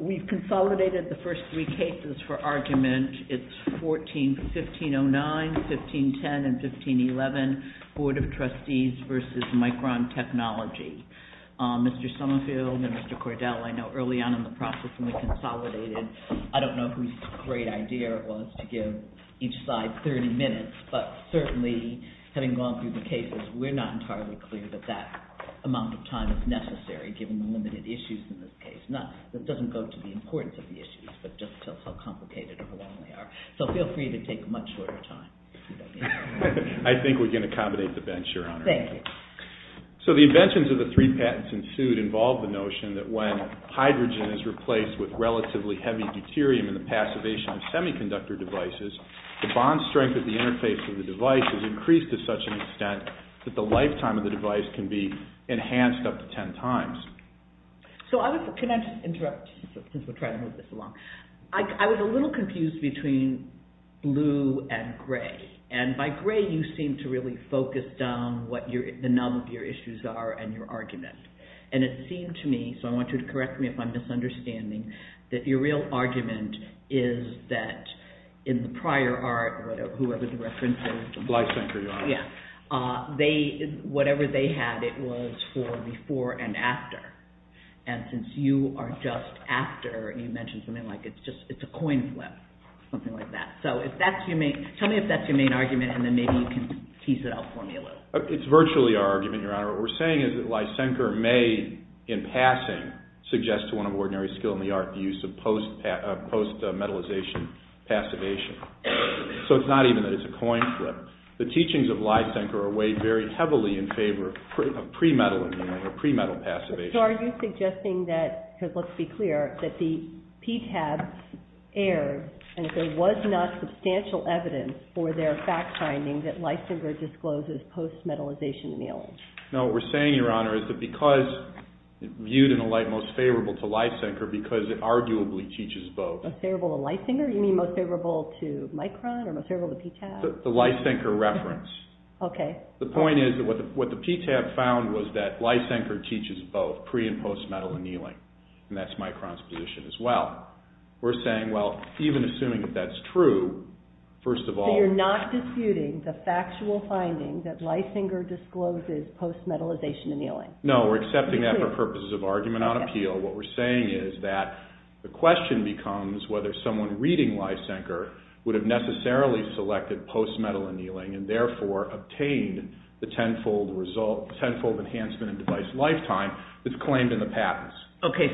We've consolidated the first three cases for argument. It's 14-1509, 15-10, and 15-11, Board of Trustees v. Micron Technology. Mr. Summerfield and Mr. Cordell, I know early on in the process when we consolidated, I don't know whose great idea it was to give each side 30 minutes, but certainly having gone through the cases, we're not entirely clear that that amount of time is necessary given the limited issues in this case. This doesn't go to the importance of the issues, but just how complicated or how long they are. So feel free to take a much shorter time. I think we can accommodate the bench, Your Honor. Thank you. So the inventions of the three patents ensued involve the notion that when hydrogen is replaced with relatively heavy deuterium in the passivation of semiconductor devices, the bond strength of the interface of the device is increased to such an extent that the lifetime of the device can be enhanced up to 10 times. So can I just interrupt since we're trying to move this along? I was a little confused between blue and gray. And by gray, you seem to really focus down what the number of your issues are and your argument. And it seemed to me, so I want you to correct me if I'm misunderstanding, that your real argument is that in the prior art or whoever the reference is, Lysenker, Your Honor. Yeah, whatever they had, it was for before and after. And since you are just after, you mentioned something like it's a coin flip, something like that. So tell me if that's your main argument, and then maybe you can tease it out for me a little. It's virtually our argument, Your Honor. What we're saying is that Lysenker may, in passing, suggest to one of ordinary skill in the art the use of post-metallization passivation. So it's not even that it's a coin flip. The teachings of Lysenker are weighed very heavily in favor of pre-metal annealing or pre-metal passivation. So are you suggesting that, because let's be clear, that the PTAB aired and that there was not substantial evidence for their fact-finding that Lysenker discloses post-metallization annealing? No, what we're saying, Your Honor, is that because it's viewed in a light most favorable to Lysenker because it arguably teaches both. Most favorable to Lysenker? You mean most favorable to Micron or most favorable to PTAB? The Lysenker reference. Okay. The point is that what the PTAB found was that Lysenker teaches both pre- and post-metal annealing, and that's Micron's position as well. We're saying, well, even assuming that that's true, first of all… No, we're accepting that for purposes of argument on appeal. What we're saying is that the question becomes whether someone reading Lysenker would have necessarily selected post-metal annealing and therefore obtained the tenfold enhancement in device lifetime that's claimed in the patents. Okay,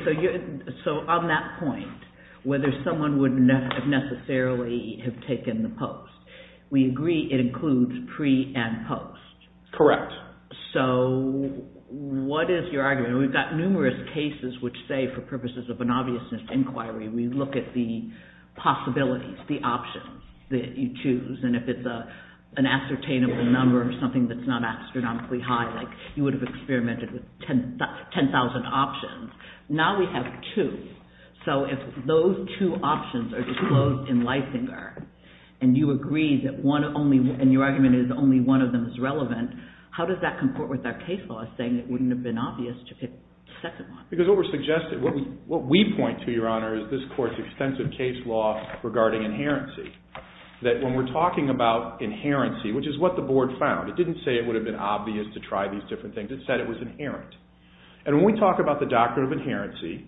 so on that point, whether someone would necessarily have taken the post, we agree it includes pre- and post. Correct. So what is your argument? We've got numerous cases which say, for purposes of an obviousness inquiry, we look at the possibilities, the options that you choose, and if it's an ascertainable number or something that's not astronomically high, like you would have experimented with 10,000 options. Now we have two. So if those two options are disclosed in Lysenker, and you agree that one only, and your argument is only one of them is relevant, how does that comport with our case law saying it wouldn't have been obvious to pick the second one? Because what we're suggesting, what we point to, Your Honor, is this Court's extensive case law regarding inherency, that when we're talking about inherency, which is what the Board found, it didn't say it would have been obvious to try these different things. It said it was inherent. And when we talk about the doctrine of inherency,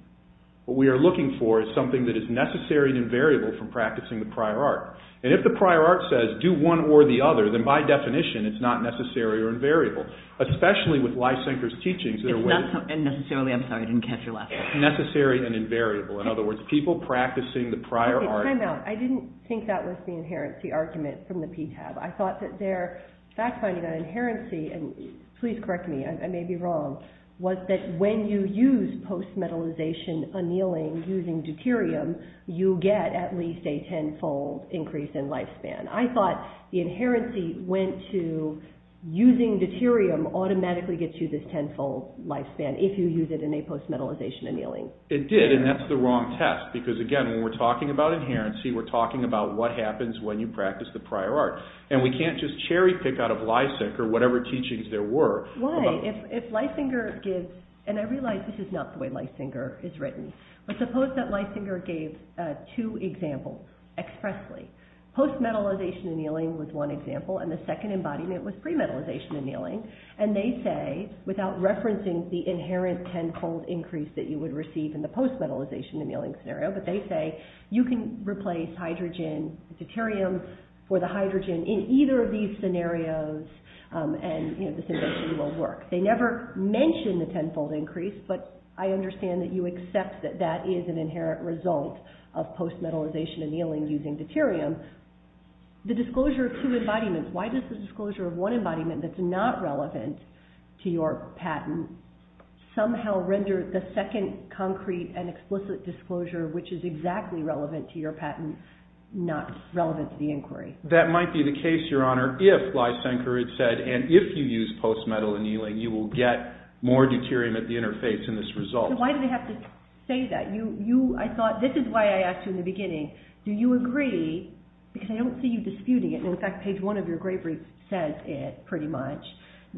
what we are looking for is something that is necessary and invariable from practicing the prior art. And if the prior art says do one or the other, then by definition it's not necessary or invariable, especially with Lysenker's teachings. It's not necessarily, I'm sorry, I didn't catch your last word. Necessary and invariable. In other words, people practicing the prior art. Time out. I didn't think that was the inherency argument from the PTAB. I thought that their fact-finding on inherency, and please correct me, I may be wrong, was that when you use post-metallization annealing using deuterium, you get at least a tenfold increase in lifespan. I thought the inherency went to using deuterium automatically gets you this tenfold lifespan if you use it in a post-metallization annealing. It did, and that's the wrong test. Because again, when we're talking about inherency, we're talking about what happens when you practice the prior art. And we can't just cherry pick out of Lysenker whatever teachings there were. Why? If Lysenker gives, and I realize this is not the way Lysenker is written, but suppose that Lysenker gave two examples expressly. Post-metallization annealing was one example, and the second embodiment was pre-metallization annealing. And they say, without referencing the inherent tenfold increase that you would receive in the post-metallization annealing scenario, but they say you can replace hydrogen and deuterium for the hydrogen in either of these scenarios, and this invention will work. They never mention the tenfold increase, but I understand that you accept that that is an inherent result of post-metallization annealing using deuterium. The disclosure of two embodiments, why does the disclosure of one embodiment that's not relevant to your patent somehow render the second concrete and explicit disclosure, which is exactly relevant to your patent, not relevant to the inquiry? That might be the case, Your Honor, if Lysenker had said, and if you use post-metallization annealing, you will get more deuterium at the interface in this result. Why do they have to say that? I thought, this is why I asked you in the beginning, do you agree, because I don't see you disputing it, and in fact page one of your great brief says it, pretty much,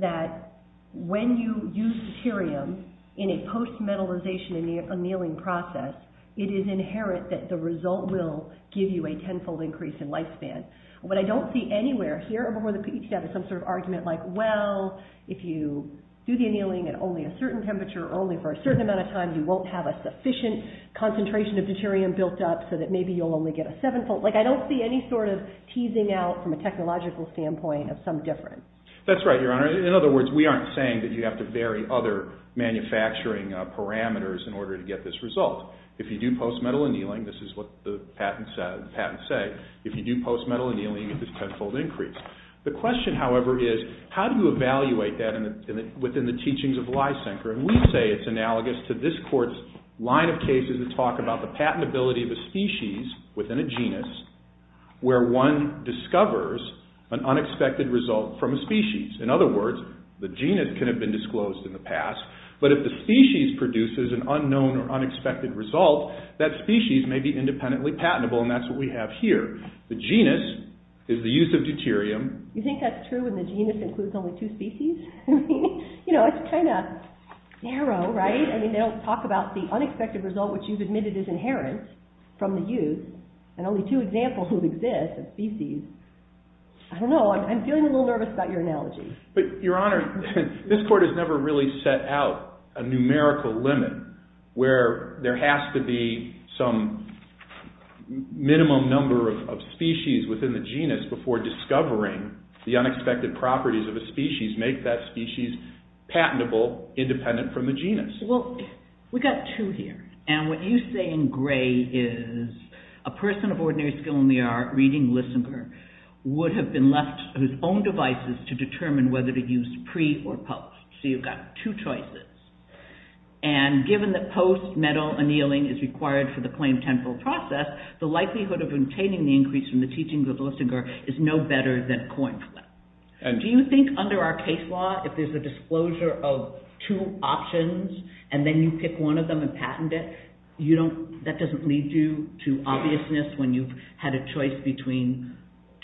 that when you use deuterium in a post-metallization annealing process, it is inherent that the result will give you a tenfold increase in lifespan. What I don't see anywhere, here or before the PET tab, is some sort of argument like, well, if you do the annealing at only a certain temperature or only for a certain amount of time, you won't have a sufficient concentration of deuterium built up so that maybe you'll only get a sevenfold, like I don't see any sort of teasing out from a technological standpoint of some difference. That's right, Your Honor. In other words, we aren't saying that you have to vary other manufacturing parameters in order to get this result. If you do post-metal annealing, this is what the patents say, if you do post-metal annealing, it's a tenfold increase. The question, however, is how do you evaluate that within the teachings of Lysenker? We say it's analogous to this Court's line of cases that talk about the patentability of a species within a genus, where one discovers an unexpected result from a species. In other words, the genus can have been disclosed in the past, but if the species produces an unknown or unexpected result, that species may be independently patentable, and that's what we have here. The genus is the use of deuterium. You think that's true when the genus includes only two species? I mean, you know, it's kind of narrow, right? I mean, they don't talk about the unexpected result which you've admitted is inherent from the use, and only two examples will exist of species. I don't know. I'm feeling a little nervous about your analogy. But, Your Honor, this Court has never really set out a numerical limit where there has to be some minimum number of species within the genus before discovering the unexpected properties of a species make that species patentable, independent from the genus. Well, we've got two here, and what you say in gray is a person of ordinary skill in the art, reading Lysenker, would have been left whose own devices to determine whether to use pre or post. So you've got two choices. And given that post-metal annealing is required for the plain temporal process, the likelihood of obtaining the increase from the teachings of Lysenker is no better than coin flip. Do you think under our case law, if there's a disclosure of two options, and then you pick one of them and patent it, that doesn't lead you to obviousness when you've had a choice between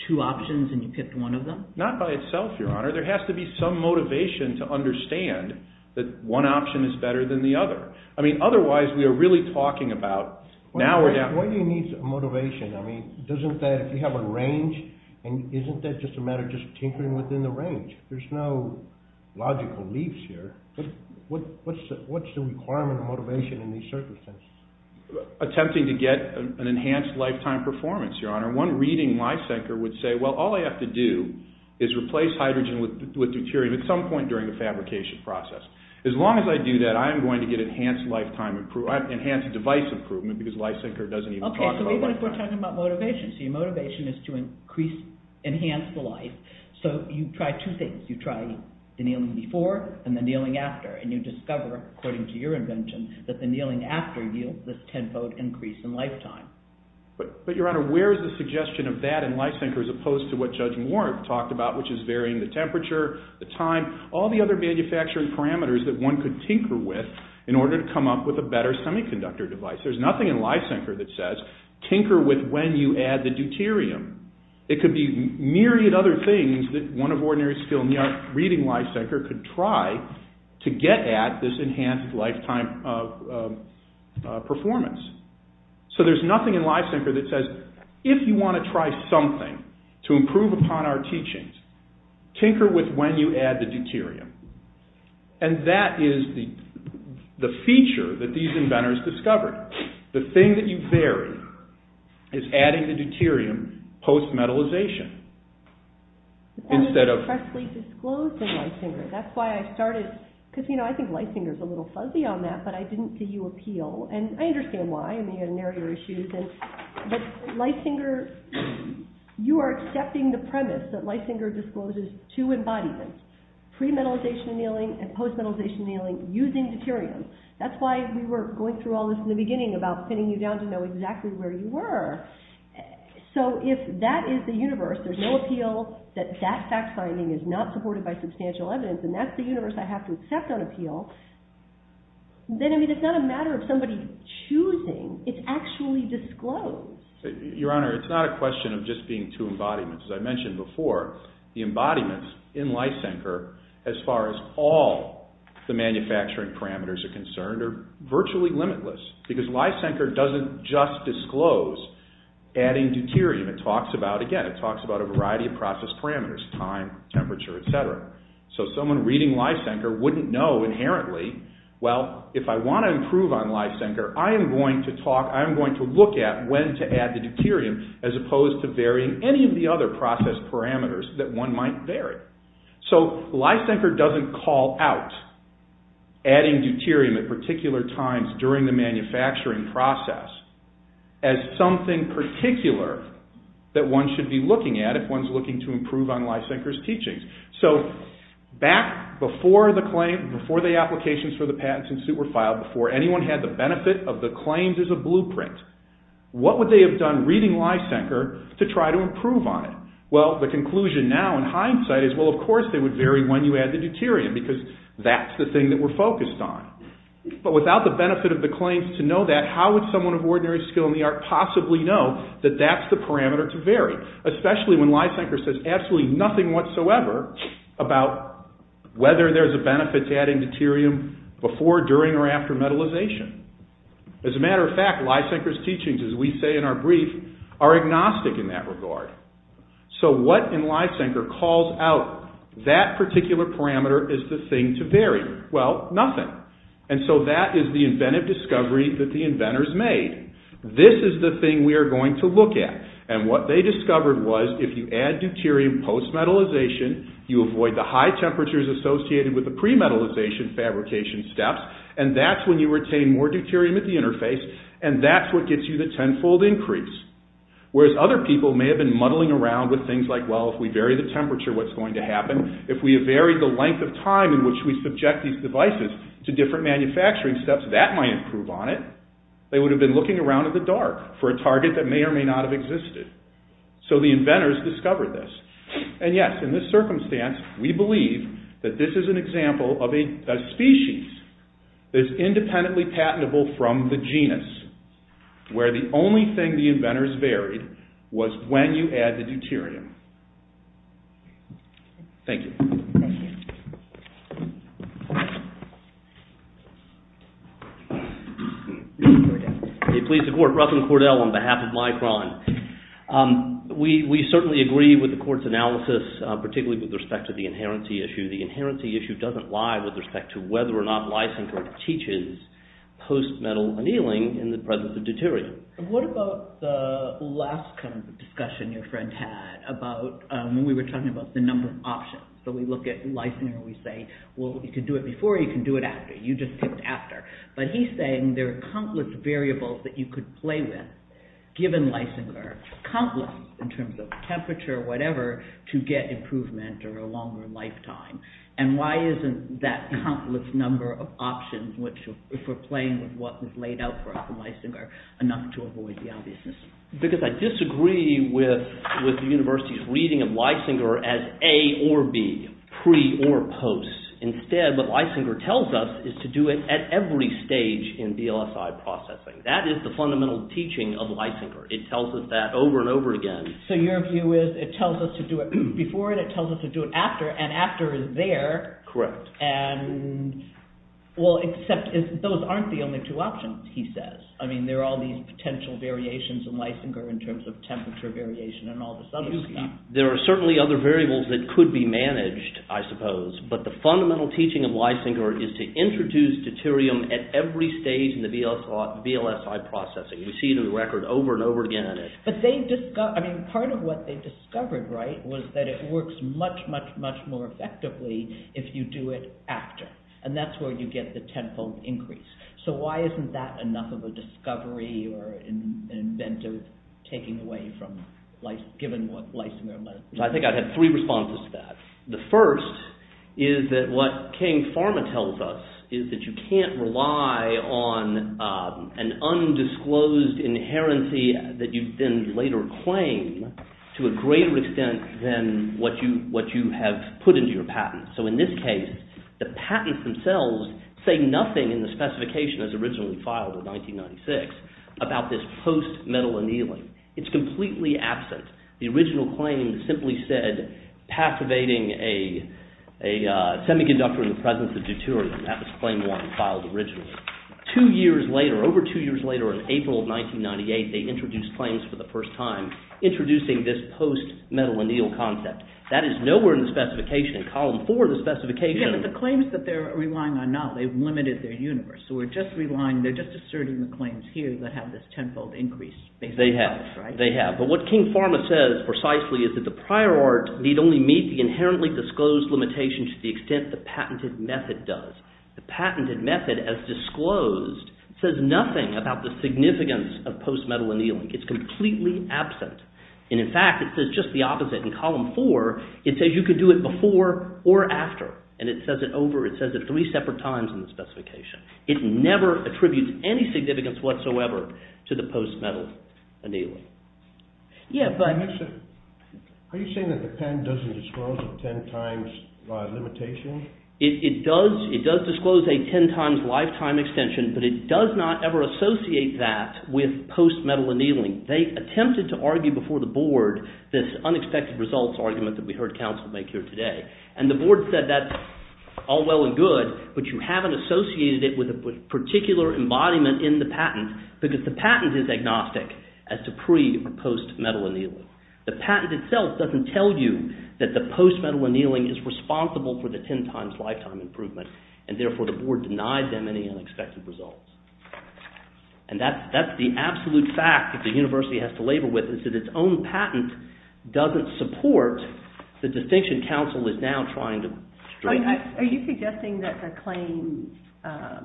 two options and you picked one of them? Not by itself, Your Honor. There has to be some motivation to understand that one option is better than the other. I mean, otherwise, we are really talking about... Why do you need motivation? I mean, doesn't that, if you have a range, and isn't that just a matter of tinkering within the range? There's no logical leaps here. What's the requirement of motivation in these circumstances? Attempting to get an enhanced lifetime performance, Your Honor. One reading Lysenker would say, well, all I have to do is replace hydrogen with deuterium at some point during the fabrication process. As long as I do that, I am going to get enhanced device improvement because Lysenker doesn't even talk about that. Okay, so even if we're talking about motivation, so your motivation is to enhance the life, so you try two things. You try the kneeling before and the kneeling after, and you discover, according to your invention, that the kneeling after yields this tenfold increase in lifetime. But, Your Honor, where is the suggestion of that in Lysenker as opposed to what Judge Warren talked about, which is varying the temperature, the time, all the other manufacturing parameters that one could tinker with in order to come up with a better semiconductor device? There's nothing in Lysenker that says, tinker with when you add the deuterium. It could be myriad other things that one of ordinary skilled reading Lysenker could try to get at this enhanced lifetime performance. So there's nothing in Lysenker that says, if you want to try something to improve upon our teachings, tinker with when you add the deuterium. And that is the feature that these inventors discovered. The thing that you vary is adding the deuterium post-metallization. That was freshly disclosed in Lysenker. That's why I started, because, you know, I think Lysenker's a little fuzzy on that, but I didn't see you appeal, and I understand why. I mean, there are issues, but Lysenker, you are accepting the premise that Lysenker discloses two embodiments. Pre-metallization annealing and post-metallization annealing using deuterium. That's why we were going through all this in the beginning about pinning you down to know exactly where you were. So if that is the universe, there's no appeal that that fact-finding is not supported by substantial evidence, and that's the universe I have to accept on appeal, then, I mean, it's not a matter of somebody choosing. It's actually disclosed. Your Honor, it's not a question of just being two embodiments. As I mentioned before, the embodiments in Lysenker, as far as all the manufacturing parameters are concerned, are virtually limitless, because Lysenker doesn't just disclose adding deuterium. It talks about, again, it talks about a variety of process parameters, time, temperature, et cetera. So someone reading Lysenker wouldn't know inherently, well, if I want to improve on Lysenker, I am going to talk, I am going to look at when to add the deuterium as opposed to varying any of the other process parameters that one might vary. So Lysenker doesn't call out adding deuterium at particular times during the manufacturing process as something particular that one should be looking at if one's looking to improve on Lysenker's teachings. So back before the claim, before the applications for the patents and suit were filed, before anyone had the benefit of the claims as a blueprint, what would they have done reading Lysenker to try to improve on it? Well, the conclusion now in hindsight is, well, of course they would vary when you add the deuterium, because that's the thing that we're focused on. But without the benefit of the claims to know that, how would someone of ordinary skill in the art possibly know that that's the parameter to vary, especially when Lysenker says absolutely nothing whatsoever about whether there's a benefit to adding deuterium before, during, or after metallization. As a matter of fact, Lysenker's teachings, as we say in our brief, are agnostic in that regard. So what in Lysenker calls out that particular parameter is the thing to vary? Well, nothing. And so that is the inventive discovery that the inventors made. This is the thing we are going to look at. And what they discovered was if you add deuterium post-metallization, you avoid the high temperatures associated with the pre-metallization fabrication steps, and that's when you retain more deuterium at the interface, and that's what gets you the tenfold increase. Whereas other people may have been muddling around with things like, well, if we vary the temperature, what's going to happen? If we vary the length of time in which we subject these devices to different manufacturing steps, that might improve on it. They would have been looking around in the dark for a target that may or may not have existed. So the inventors discovered this. And yes, in this circumstance, we believe that this is an example of a species that is independently patentable from the genus, where the only thing the inventors varied was when you add the deuterium. Thank you. Ruffin Cordell on behalf of Micron. We certainly agree with the Court's analysis, particularly with respect to the inherency issue. The inherency issue doesn't lie with respect to whether or not Lysenko teaches post-metal annealing in the presence of deuterium. What about the last discussion your friend had about when we were talking about the number of options, So we look at Lysenko and we say, well, you can do it before or you can do it after. You just picked after. But he's saying there are countless variables that you could play with, given Lysenko, countless in terms of temperature or whatever, to get improvement or a longer lifetime. And why isn't that countless number of options, if we're playing with what was laid out for us in Lysenko, enough to avoid the obviousness? Because I disagree with the university's reading of Lysenko as A or B, pre or post. Instead, what Lysenko tells us is to do it at every stage in BLSI processing. That is the fundamental teaching of Lysenko. It tells us that over and over again. So your view is it tells us to do it before and it tells us to do it after, and after is there. Correct. Well, except those aren't the only two options, he says. I mean, there are all these potential variations in Lysenko in terms of temperature variation and all this other stuff. There are certainly other variables that could be managed, I suppose. But the fundamental teaching of Lysenko is to introduce deuterium at every stage in the BLSI processing. We see it in the record over and over again. But part of what they discovered, right, was that it works much, much, much more effectively if you do it after. And that's where you get the tenfold increase. So why isn't that enough of a discovery or an inventive taking away from, given what Lysenko meant? I think I'd have three responses to that. The first is that what King Pharma tells us is that you can't rely on an undisclosed inherency that you then later claim to a greater extent than what you have put into your patent. So in this case, the patents themselves say nothing in the specification as originally filed in 1996 about this post-metal annealing. It's completely absent. The original claim simply said passivating a semiconductor in the presence of deuterium. That was claim one filed originally. Two years later, over two years later, in April of 1998, they introduced claims for the first time introducing this post-metal anneal concept. That is nowhere in the specification. In column four of the specification— But the claims that they're relying on now, they've limited their universe. So we're just relying—they're just asserting the claims here that have this tenfold increase. They have. They have. But what King Pharma says precisely is that the prior art need only meet the inherently disclosed limitation to the extent the patented method does. The patented method, as disclosed, says nothing about the significance of post-metal annealing. It's completely absent. And in fact, it says just the opposite. In column four, it says you can do it before or after. And it says it over—it says it three separate times in the specification. It never attributes any significance whatsoever to the post-metal annealing. Yeah, but— Are you saying that the pen doesn't disclose a ten times limitation? It does disclose a ten times lifetime extension, but it does not ever associate that with post-metal annealing. They attempted to argue before the board this unexpected results argument that we heard counsel make here today. And the board said that's all well and good, but you haven't associated it with a particular embodiment in the patent because the patent is agnostic as to pre- or post-metal annealing. The patent itself doesn't tell you that the post-metal annealing is responsible for the ten times lifetime improvement, and therefore the board denied them any unexpected results. And that's the absolute fact that the university has to labor with is that its own patent doesn't support the distinction counsel is now trying to— Are you suggesting that the claim—I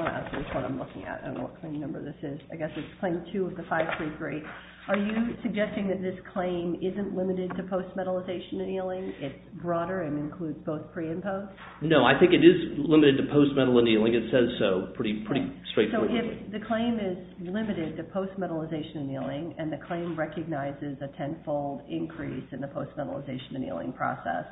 want to ask which one I'm looking at and what claim number this is. I guess it's claim two of the 533. Are you suggesting that this claim isn't limited to post-metal annealing? It's broader and includes both pre and post? No, I think it is limited to post-metal annealing. It says so pretty straightforwardly. So if the claim is limited to post-metal annealing and the claim recognizes a tenfold increase in the post-metal annealing process,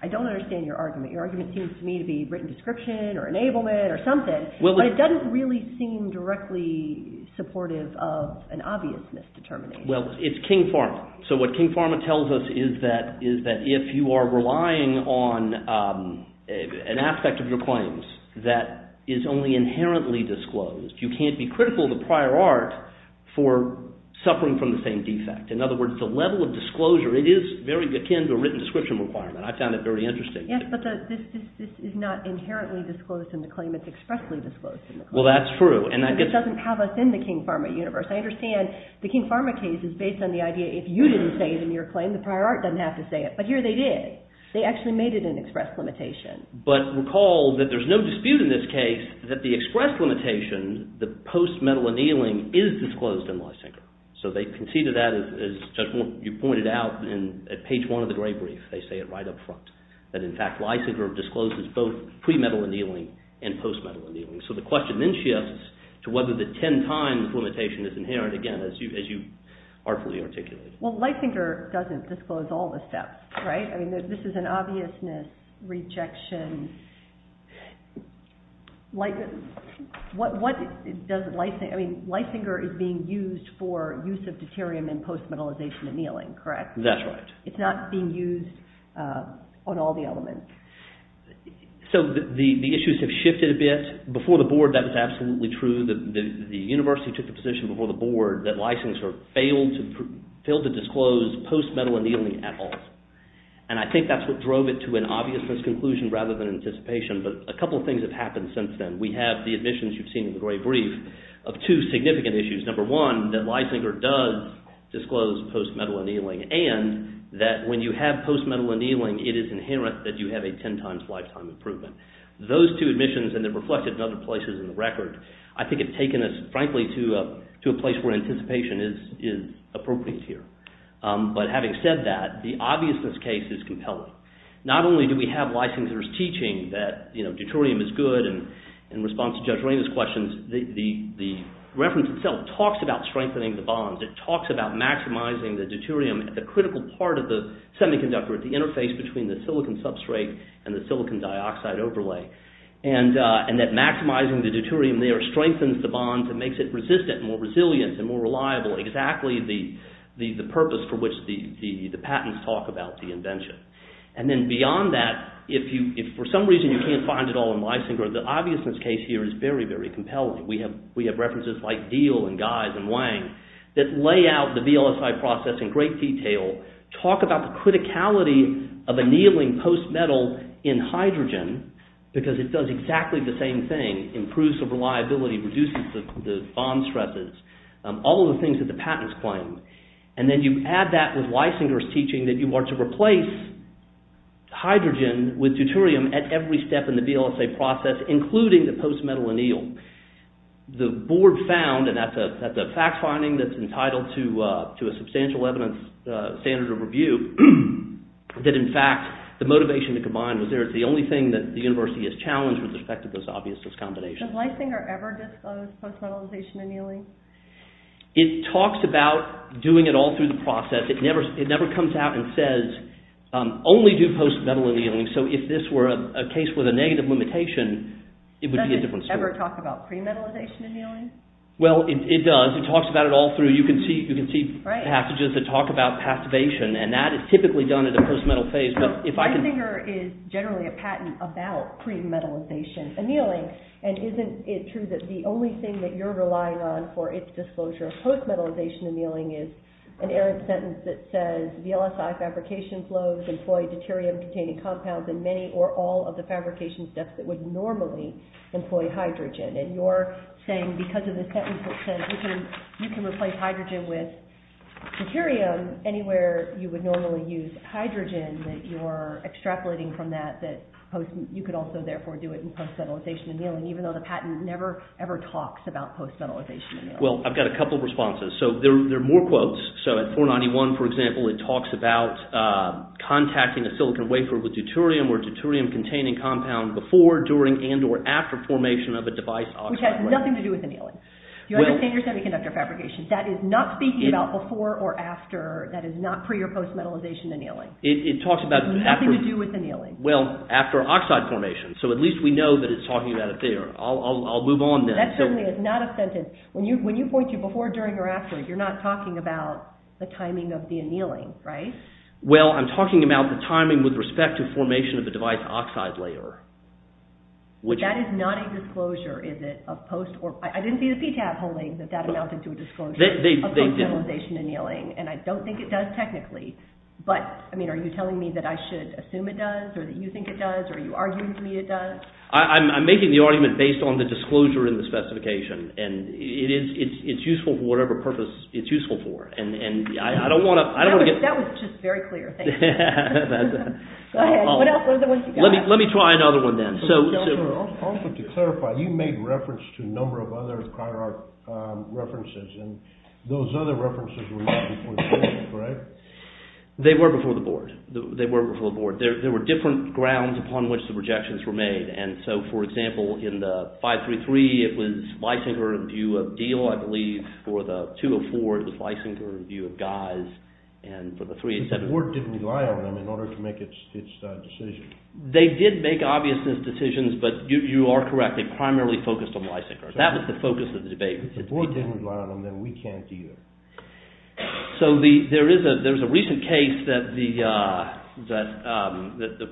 I don't understand your argument. Your argument seems to me to be written description or enablement or something, but it doesn't really seem directly supportive of an obvious misdetermination. Well, it's King Pharma. So what King Pharma tells us is that if you are relying on an aspect of your claims that is only inherently disclosed, you can't be critical of the prior art for suffering from the same defect. In other words, the level of disclosure, it is very akin to a written description requirement. I found it very interesting. Yes, but this is not inherently disclosed in the claim. It's expressly disclosed in the claim. Well, that's true. It doesn't have us in the King Pharma universe. I understand the King Pharma case is based on the idea that if you didn't say it in your claim, the prior art doesn't have to say it. But here they did. They actually made it an express limitation. But recall that there is no dispute in this case that the express limitation, the post-metal annealing, is disclosed in Leisinger. So they conceded that, as Judge Moore, you pointed out at page one of the Gray Brief. They say it right up front that, in fact, Leisinger discloses both pre-metal annealing and post-metal annealing. So the question then shifts to whether the ten-time limitation is inherent, again, as you artfully articulated. Well, Leisinger doesn't disclose all the steps, right? I mean this is an obviousness, rejection. Leisinger is being used for use of deuterium in post-metal annealing, correct? That's right. It's not being used on all the elements. So the issues have shifted a bit. Before the board, that was absolutely true. The university took the position before the board that Leisinger failed to disclose post-metal annealing at all. And I think that's what drove it to an obviousness conclusion rather than anticipation. But a couple of things have happened since then. We have the admissions you've seen in the Gray Brief of two significant issues. Number one, that Leisinger does disclose post-metal annealing. And that when you have post-metal annealing, it is inherent that you have a ten-times lifetime improvement. Those two admissions, and they're reflected in other places in the record, I think have taken us, frankly, to a place where anticipation is appropriate here. But having said that, the obviousness case is compelling. Not only do we have Leisinger's teaching that deuterium is good, and in response to Judge Ramos' questions, the reference itself talks about strengthening the bonds. It talks about maximizing the deuterium at the critical part of the semiconductor, at the interface between the silicon substrate and the silicon dioxide overlay. And that maximizing the deuterium there strengthens the bonds and makes it resistant, more resilient, and more reliable, exactly the purpose for which the patents talk about the invention. And then beyond that, if for some reason you can't find it all in Leisinger, the obviousness case here is very, very compelling. We have references like Diehl and Guise and Wang that lay out the VLSI process in great detail, talk about the criticality of annealing post-metal in hydrogen, because it does exactly the same thing. It improves the reliability, reduces the bond stresses, all of the things that the patents claim. And then you add that with Leisinger's teaching that you are to replace hydrogen with deuterium at every step in the VLSI process, including the post-metal anneal. And the board found, and that's a fact-finding that's entitled to a substantial evidence standard of review, that in fact the motivation to combine was there. It's the only thing that the university has challenged with respect to this obviousness combination. Does Leisinger ever disclose post-metalization annealing? It talks about doing it all through the process. It never comes out and says, only do post-metal annealing. So if this were a case with a negative limitation, it would be a different story. Does it ever talk about pre-metalization annealing? Well, it does. It talks about it all through. You can see passages that talk about passivation, and that is typically done at a post-metal phase. Leisinger is generally a patent about pre-metalization annealing, and isn't it true that the only thing that you're relying on for its disclosure of post-metalization annealing is an errant sentence that says, VLSI fabrication flows employ deuterium-containing compounds in many or all of the fabrication steps that would normally employ hydrogen. And you're saying because of the sentence that says you can replace hydrogen with deuterium anywhere you would normally use hydrogen, that you're extrapolating from that that you could also therefore do it in post-metalization annealing, even though the patent never, ever talks about post-metalization annealing. Well, I've got a couple of responses. So there are more quotes. So at 491, for example, it talks about contacting a silicon wafer with deuterium or a deuterium-containing compound before, during, and or after formation of a device oxide. Which has nothing to do with annealing. You understand your semiconductor fabrication. That is not speaking about before or after. That is not pre- or post-metalization annealing. It talks about after. It has nothing to do with annealing. Well, after oxide formation. So at least we know that it's talking about it there. I'll move on then. That certainly is not a sentence. When you point to before, during, or after, you're not talking about the timing of the annealing, right? Well, I'm talking about the timing with respect to formation of the device oxide layer. That is not a disclosure, is it? I didn't see the PTAB holding that that amounted to a disclosure of post-metalization annealing. And I don't think it does technically. But, I mean, are you telling me that I should assume it does, or that you think it does, or are you arguing for me it does? I'm making the argument based on the disclosure in the specification. And it's useful for whatever purpose it's useful for. And I don't want to get… That was just very clear. Thank you. Go ahead. What else? What are the ones you got? Let me try another one then. To clarify, you made reference to a number of other cryo-arc references, and those other references were not before the board, right? They were before the board. They were before the board. There were different grounds upon which the rejections were made. And so, for example, in the 533, it was Leisinger in view of Diehl, I believe. For the 204, it was Leisinger in view of Geiss, and for the 387… The board didn't rely on them in order to make its decision. They did make obvious decisions, but you are correct. They primarily focused on Leisinger. That was the focus of the debate. If the board didn't rely on them, then we can't either. So there is a recent case that the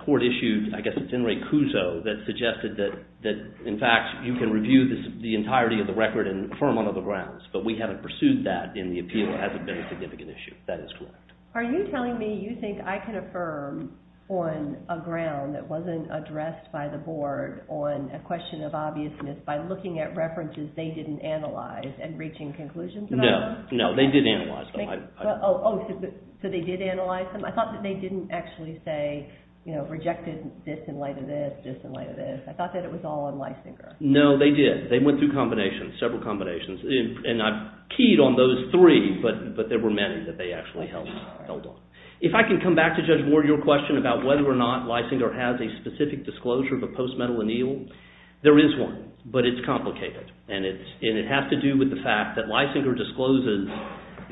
court issued, I guess it's Henry Cuso, that suggested that, in fact, you can review the entirety of the record and affirm one of the grounds. But we haven't pursued that in the appeal. It hasn't been a significant issue. That is correct. Are you telling me you think I can affirm on a ground that wasn't addressed by the board on a question of obviousness by looking at references they didn't analyze and reaching conclusions about them? No, no. They did analyze them. Oh, so they did analyze them? I thought that they didn't actually say, you know, rejected this in light of this, this in light of this. I thought that it was all on Leisinger. No, they did. They went through combinations, several combinations. And I've keyed on those three, but there were many that they actually held on. If I can come back to Judge Ward, your question about whether or not Leisinger has a specific disclosure of a post-medal anneal, there is one, but it's complicated. And it has to do with the fact that Leisinger discloses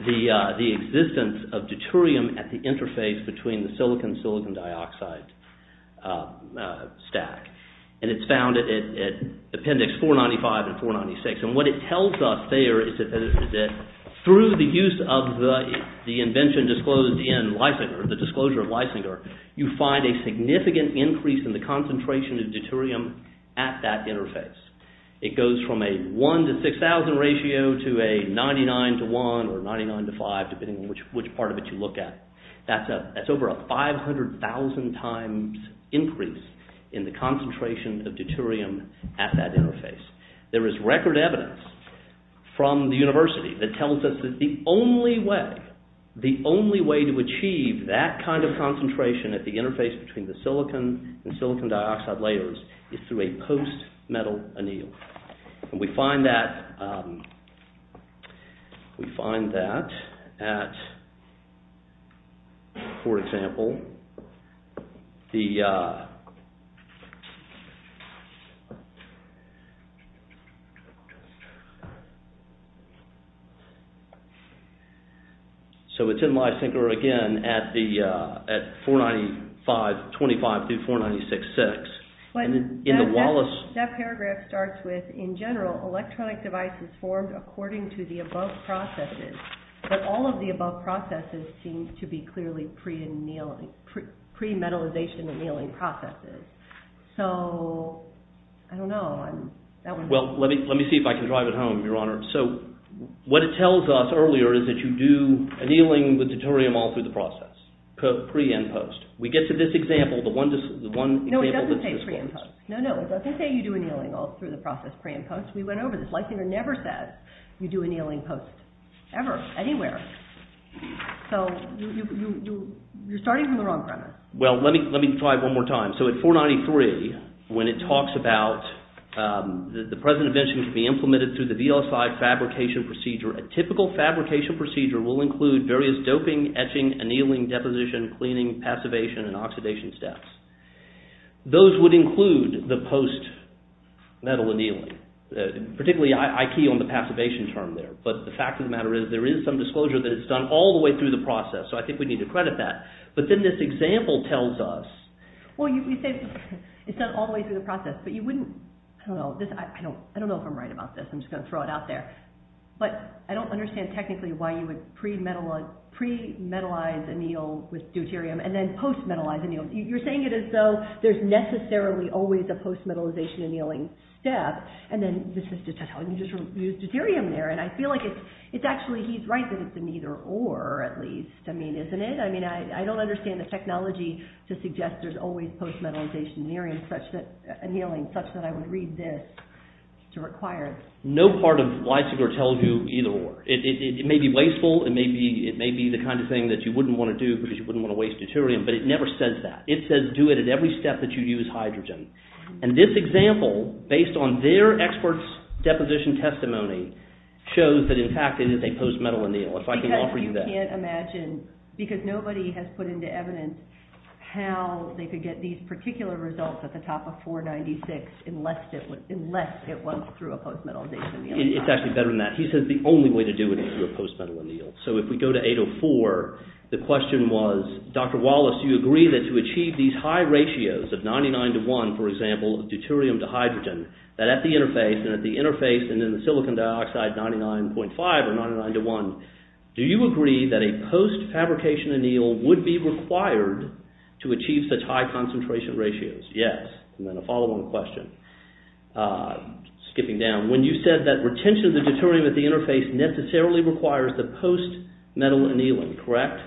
the existence of deuterium at the interface between the silicon-silicon dioxide stack. And it's found at Appendix 495 and 496. And what it tells us there is that through the use of the invention disclosed in Leisinger, the disclosure of Leisinger, you find a significant increase in the concentration of deuterium at that interface. It goes from a 1 to 6,000 ratio to a 99 to 1 or 99 to 5, depending on which part of it you look at. That's over a 500,000 times increase in the concentration of deuterium at that interface. There is record evidence from the university that tells us that the only way, the only way to achieve that kind of concentration at the interface between the silicon and silicon dioxide layers is through a post-metal anneal. And we find that, we find that at, for example, the, so it's in Leisinger again at the, at 495, 25 through 496. That paragraph starts with, in general, electronic devices formed according to the above processes. But all of the above processes seem to be clearly pre-annealing, pre-metallization annealing processes. So, I don't know. Well, let me see if I can drive it home, Your Honor. So, what it tells us earlier is that you do annealing with deuterium all through the process, pre and post. We get to this example, the one example that's disclosed. No, it doesn't say pre and post. No, no, it doesn't say you do annealing all through the process, pre and post. We went over this. Leisinger never said you do annealing post, ever, anywhere. So, you're starting from the wrong premise. Well, let me, let me try it one more time. So, at 493, when it talks about the present invention can be implemented through the VLSI fabrication procedure, a typical fabrication procedure will include various doping, etching, annealing, deposition, cleaning, passivation, and oxidation steps. Those would include the post-metal annealing, particularly I key on the passivation term there. But the fact of the matter is there is some disclosure that it's done all the way through the process. So, I think we need to credit that. But then this example tells us. Well, you say it's done all the way through the process. But you wouldn't, I don't know, I don't know if I'm right about this. I'm just going to throw it out there. But I don't understand technically why you would pre-metalize anneal with deuterium and then post-metalize anneal. You're saying it as though there's necessarily always a post-metalization annealing step. And then you just use deuterium there. And I feel like it's actually, he's right that it's an either or at least. I mean, isn't it? I mean, I don't understand the technology to suggest there's always post-metalization annealing such that I would read this to require. No part of Weisinger tells you either or. It may be wasteful. It may be the kind of thing that you wouldn't want to do because you wouldn't want to waste deuterium. But it never says that. It says do it at every step that you use hydrogen. And this example, based on their experts' deposition testimony, shows that in fact it is a post-metal anneal, if I can offer you that. I can't imagine, because nobody has put into evidence how they could get these particular results at the top of 496 unless it was through a post-metalization annealing. He says the only way to do it is through a post-metal anneal. So if we go to 804, the question was, Dr. Wallace, do you agree that to achieve these high ratios of 99 to 1, for example, of deuterium to hydrogen, that at the interface and at the interface and in the silicon dioxide 99.5 or 99 to 1, do you agree that a post-fabrication anneal would be required to achieve such high concentration ratios? Yes. And then a follow-on question. Skipping down. When you said that retention of the deuterium at the interface necessarily requires the post-metal annealing, correct?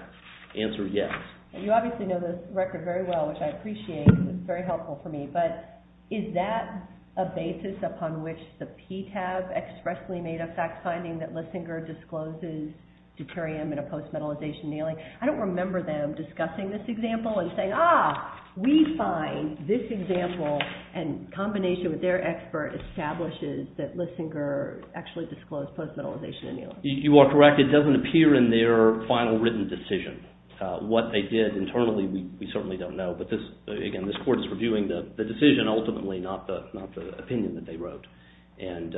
Answer yes. You obviously know this record very well, which I appreciate. It's very helpful for me. But is that a basis upon which the PTAB expressly made a fact-finding that Lissinger discloses deuterium in a post-metalization annealing? I don't remember them discussing this example and saying, ah, we find this example in combination with their expert establishes that Lissinger actually disclosed post-metalization annealing. You are correct. It doesn't appear in their final written decision. What they did internally, we certainly don't know. But again, this Court is reviewing the decision ultimately, not the opinion that they wrote. And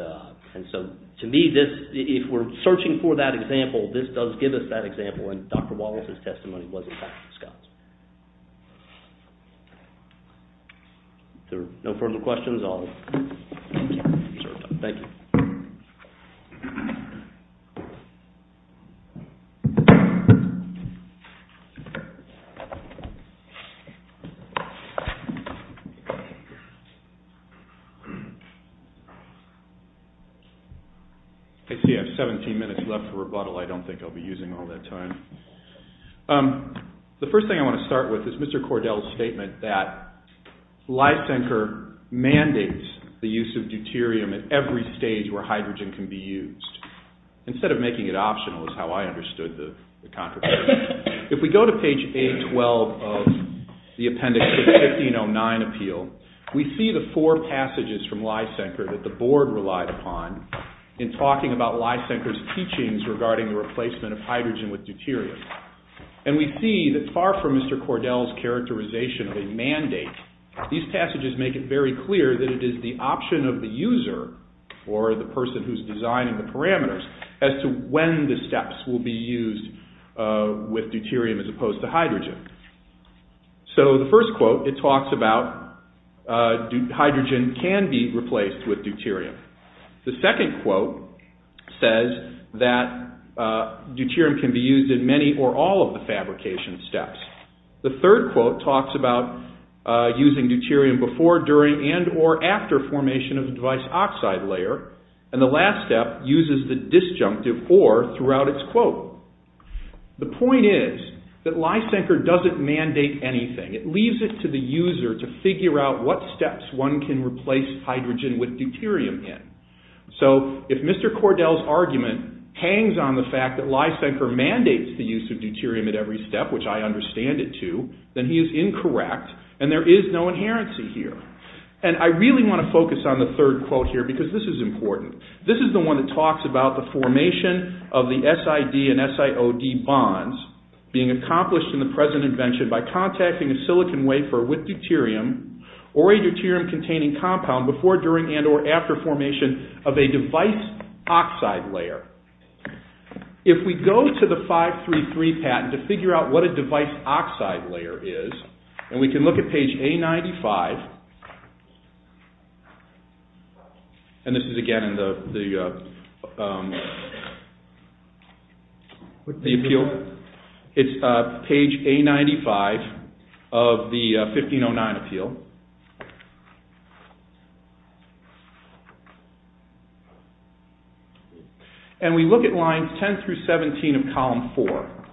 so to me, if we're searching for that example, this does give us that example, and Dr. Wallace's testimony was in fact discussed. If there are no further questions, I'll stop. Thank you. I see I have 17 minutes left for rebuttal. I don't think I'll be using all that time. The first thing I want to start with is Mr. Cordell's statement that Lissinger mandates the use of deuterium at every stage where hydrogen can be used, instead of making it optional is how I understood the contribution. If we go to page A12 of the Appendix to the 1509 Appeal, we see the four passages from Lissinger that the Board relied upon in talking about Lissinger's teachings regarding the replacement of hydrogen with deuterium. And we see that far from Mr. Cordell's characterization of a mandate, these passages make it very clear that it is the option of the user, or the person who's designing the parameters, as to when the steps will be used with deuterium as opposed to hydrogen. So the first quote, it talks about hydrogen can be replaced with deuterium. The second quote says that deuterium can be used in many or all of the fabrication steps. The third quote talks about using deuterium before, during, and or after formation of the device oxide layer. And the last step uses the disjunctive or throughout its quote. The point is that Lissinger doesn't mandate anything. It leaves it to the user to figure out what steps one can replace hydrogen with deuterium in. So if Mr. Cordell's argument hangs on the fact that Lissinger mandates the use of deuterium at every step, which I understand it to, then he is incorrect and there is no inherency here. And I really want to focus on the third quote here because this is important. This is the one that talks about the formation of the SID and SIOD bonds being accomplished in the present invention by contacting a silicon wafer with deuterium or a deuterium-containing compound before, during, and or after formation of a device oxide layer. If we go to the 533 patent to figure out what a device oxide layer is, and we can look at page A95. And this is again in the appeal. It's page A95 of the 1509 appeal. And we look at lines 10 through 17 of column 4.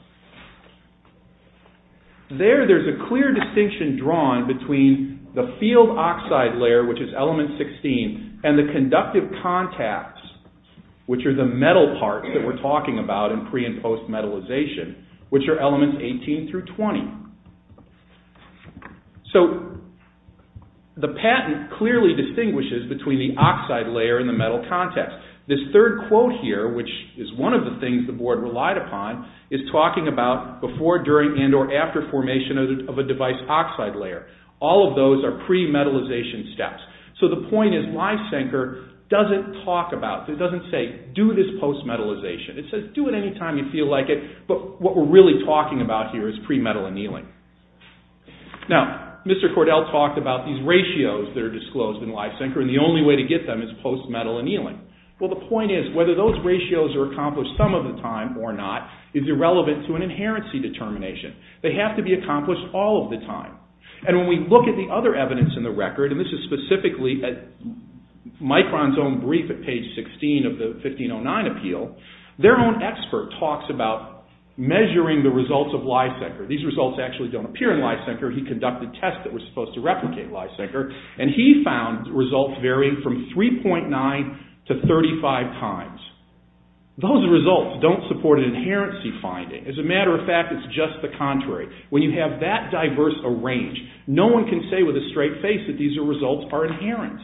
There, there's a clear distinction drawn between the field oxide layer, which is element 16, and the conductive contacts, which are the metal parts that we're talking about in pre- and post-metallization, which are elements 18 through 20. So, the patent clearly distinguishes between the oxide layer and the metal contacts. This third quote here, which is one of the things the board relied upon, is talking about before, during, and or after formation of a device oxide layer. All of those are pre-metallization steps. So, the point is, Lysenker doesn't talk about, it doesn't say, do this post-metallization. It says, do it any time you feel like it, but what we're really talking about here is pre-metal annealing. Now, Mr. Cordell talked about these ratios that are disclosed in Lysenker, and the only way to get them is post-metal annealing. Well, the point is, whether those ratios are accomplished some of the time or not is irrelevant to an inherency determination. They have to be accomplished all of the time, and when we look at the other evidence in the record, and this is specifically at Micron's own brief at page 16 of the 1509 appeal, their own expert talks about measuring the results of Lysenker. These results actually don't appear in Lysenker. He conducted tests that were supposed to replicate Lysenker, and he found results varying from 3.9 to 35 times. Those results don't support an inherency finding. As a matter of fact, it's just the contrary. When you have that diverse a range, no one can say with a straight face that these results are inherent.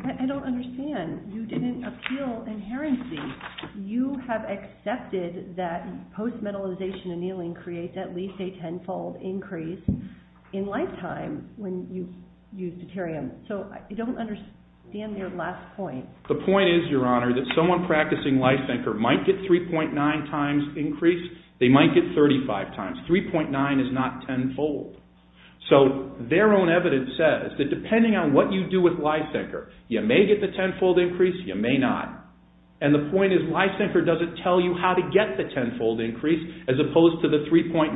I don't understand. You didn't appeal inherency. You have accepted that post-metallization annealing creates at least a tenfold increase in lifetime when you use deuterium. So, I don't understand your last point. The point is, Your Honor, that someone practicing Lysenker might get 3.9 times increase. They might get 35 times. 3.9 is not tenfold. So, their own evidence says that depending on what you do with Lysenker, you may get the tenfold increase, you may not, and the point is Lysenker doesn't tell you how to get the tenfold increase as opposed to the 3.9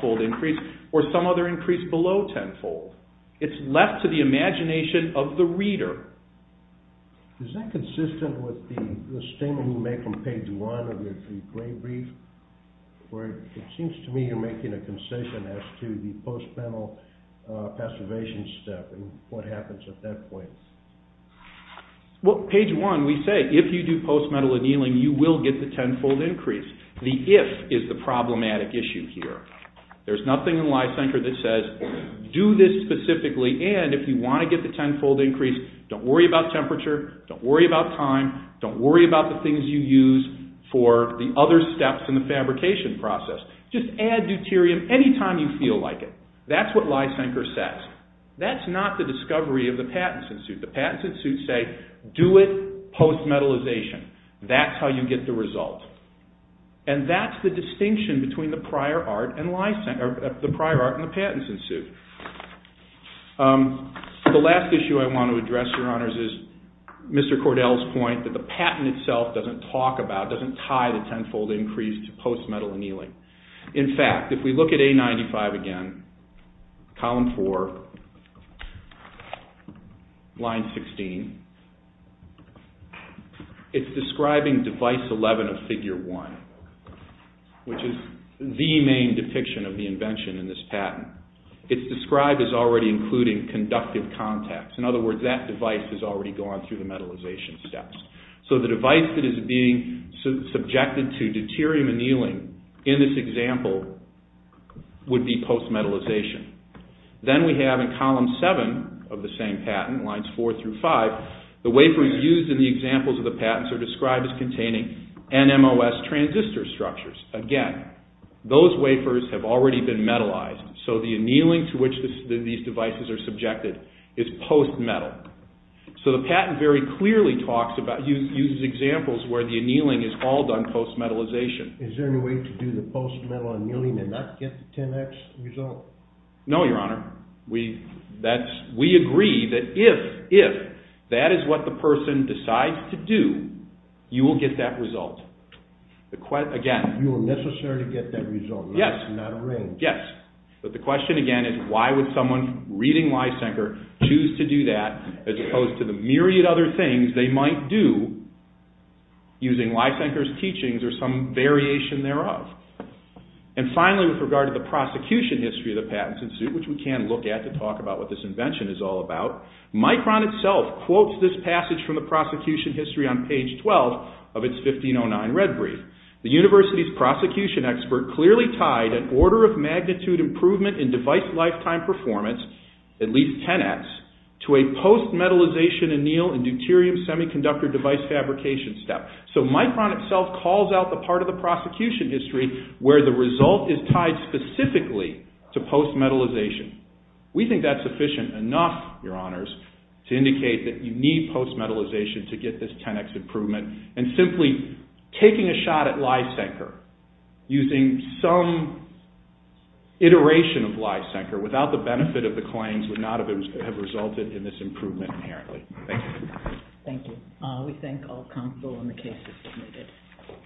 fold increase or some other increase below tenfold. It's left to the imagination of the reader. Is that consistent with the statement you made from page one of your three-point brief, where it seems to me you're making a concession as to the post-metal passivation step and what happens at that point? Well, page one, we say if you do post-metal annealing, you will get the tenfold increase. The if is the problematic issue here. There's nothing in Lysenker that says do this specifically and if you want to get the tenfold increase, don't worry about temperature, don't worry about time, don't worry about the things you use for the other steps in the fabrication process. Just add deuterium any time you feel like it. That's what Lysenker says. That's not the discovery of the patents in suit. The patents in suit say do it post-metalization. That's how you get the result. And that's the distinction between the prior art and the patents in suit. The last issue I want to address, your honors, is Mr. Cordell's point that the patent itself doesn't talk about, doesn't tie the tenfold increase to post-metal annealing. In fact, if we look at A95 again, column four, line 16, it's describing device 11 of figure 1, which is the main depiction of the invention in this patent. It's described as already including conductive contacts. In other words, that device has already gone through the metalization steps. So the device that is being subjected to deuterium annealing in this example would be post-metalization. Then we have in column seven of the same patent, lines four through five, the wafers used in the examples of the patents are described as containing NMOS transistor structures. Again, those wafers have already been metalized. So the annealing to which these devices are subjected is post-metal. So the patent very clearly uses examples where the annealing is all done post-metalization. Is there any way to do the post-metal annealing and not get the 10x result? No, your honor. We agree that if that is what the person decides to do, you will get that result. You will necessarily get that result. Yes, but the question again is why would someone reading Lysenker choose to do that as opposed to the myriad other things they might do using Lysenker's teachings or some variation thereof. And finally, with regard to the prosecution history of the Patents Institute, which we can look at to talk about what this invention is all about, Micron itself quotes this passage from the prosecution history on page 12 of its 1509 red brief. The university's prosecution expert clearly tied an order of magnitude improvement in device lifetime performance, at least 10x, to a post-metalization anneal and deuterium semiconductor device fabrication step. So Micron itself calls out the part of the prosecution history where the result is tied specifically to post-metalization. We think that's sufficient enough, your honors, to indicate that you need post-metalization to get this 10x improvement and simply taking a shot at Lysenker using some iteration of Lysenker without the benefit of the claims would not have resulted in this improvement inherently. Thank you. Thank you. We thank all counsel when the case is submitted.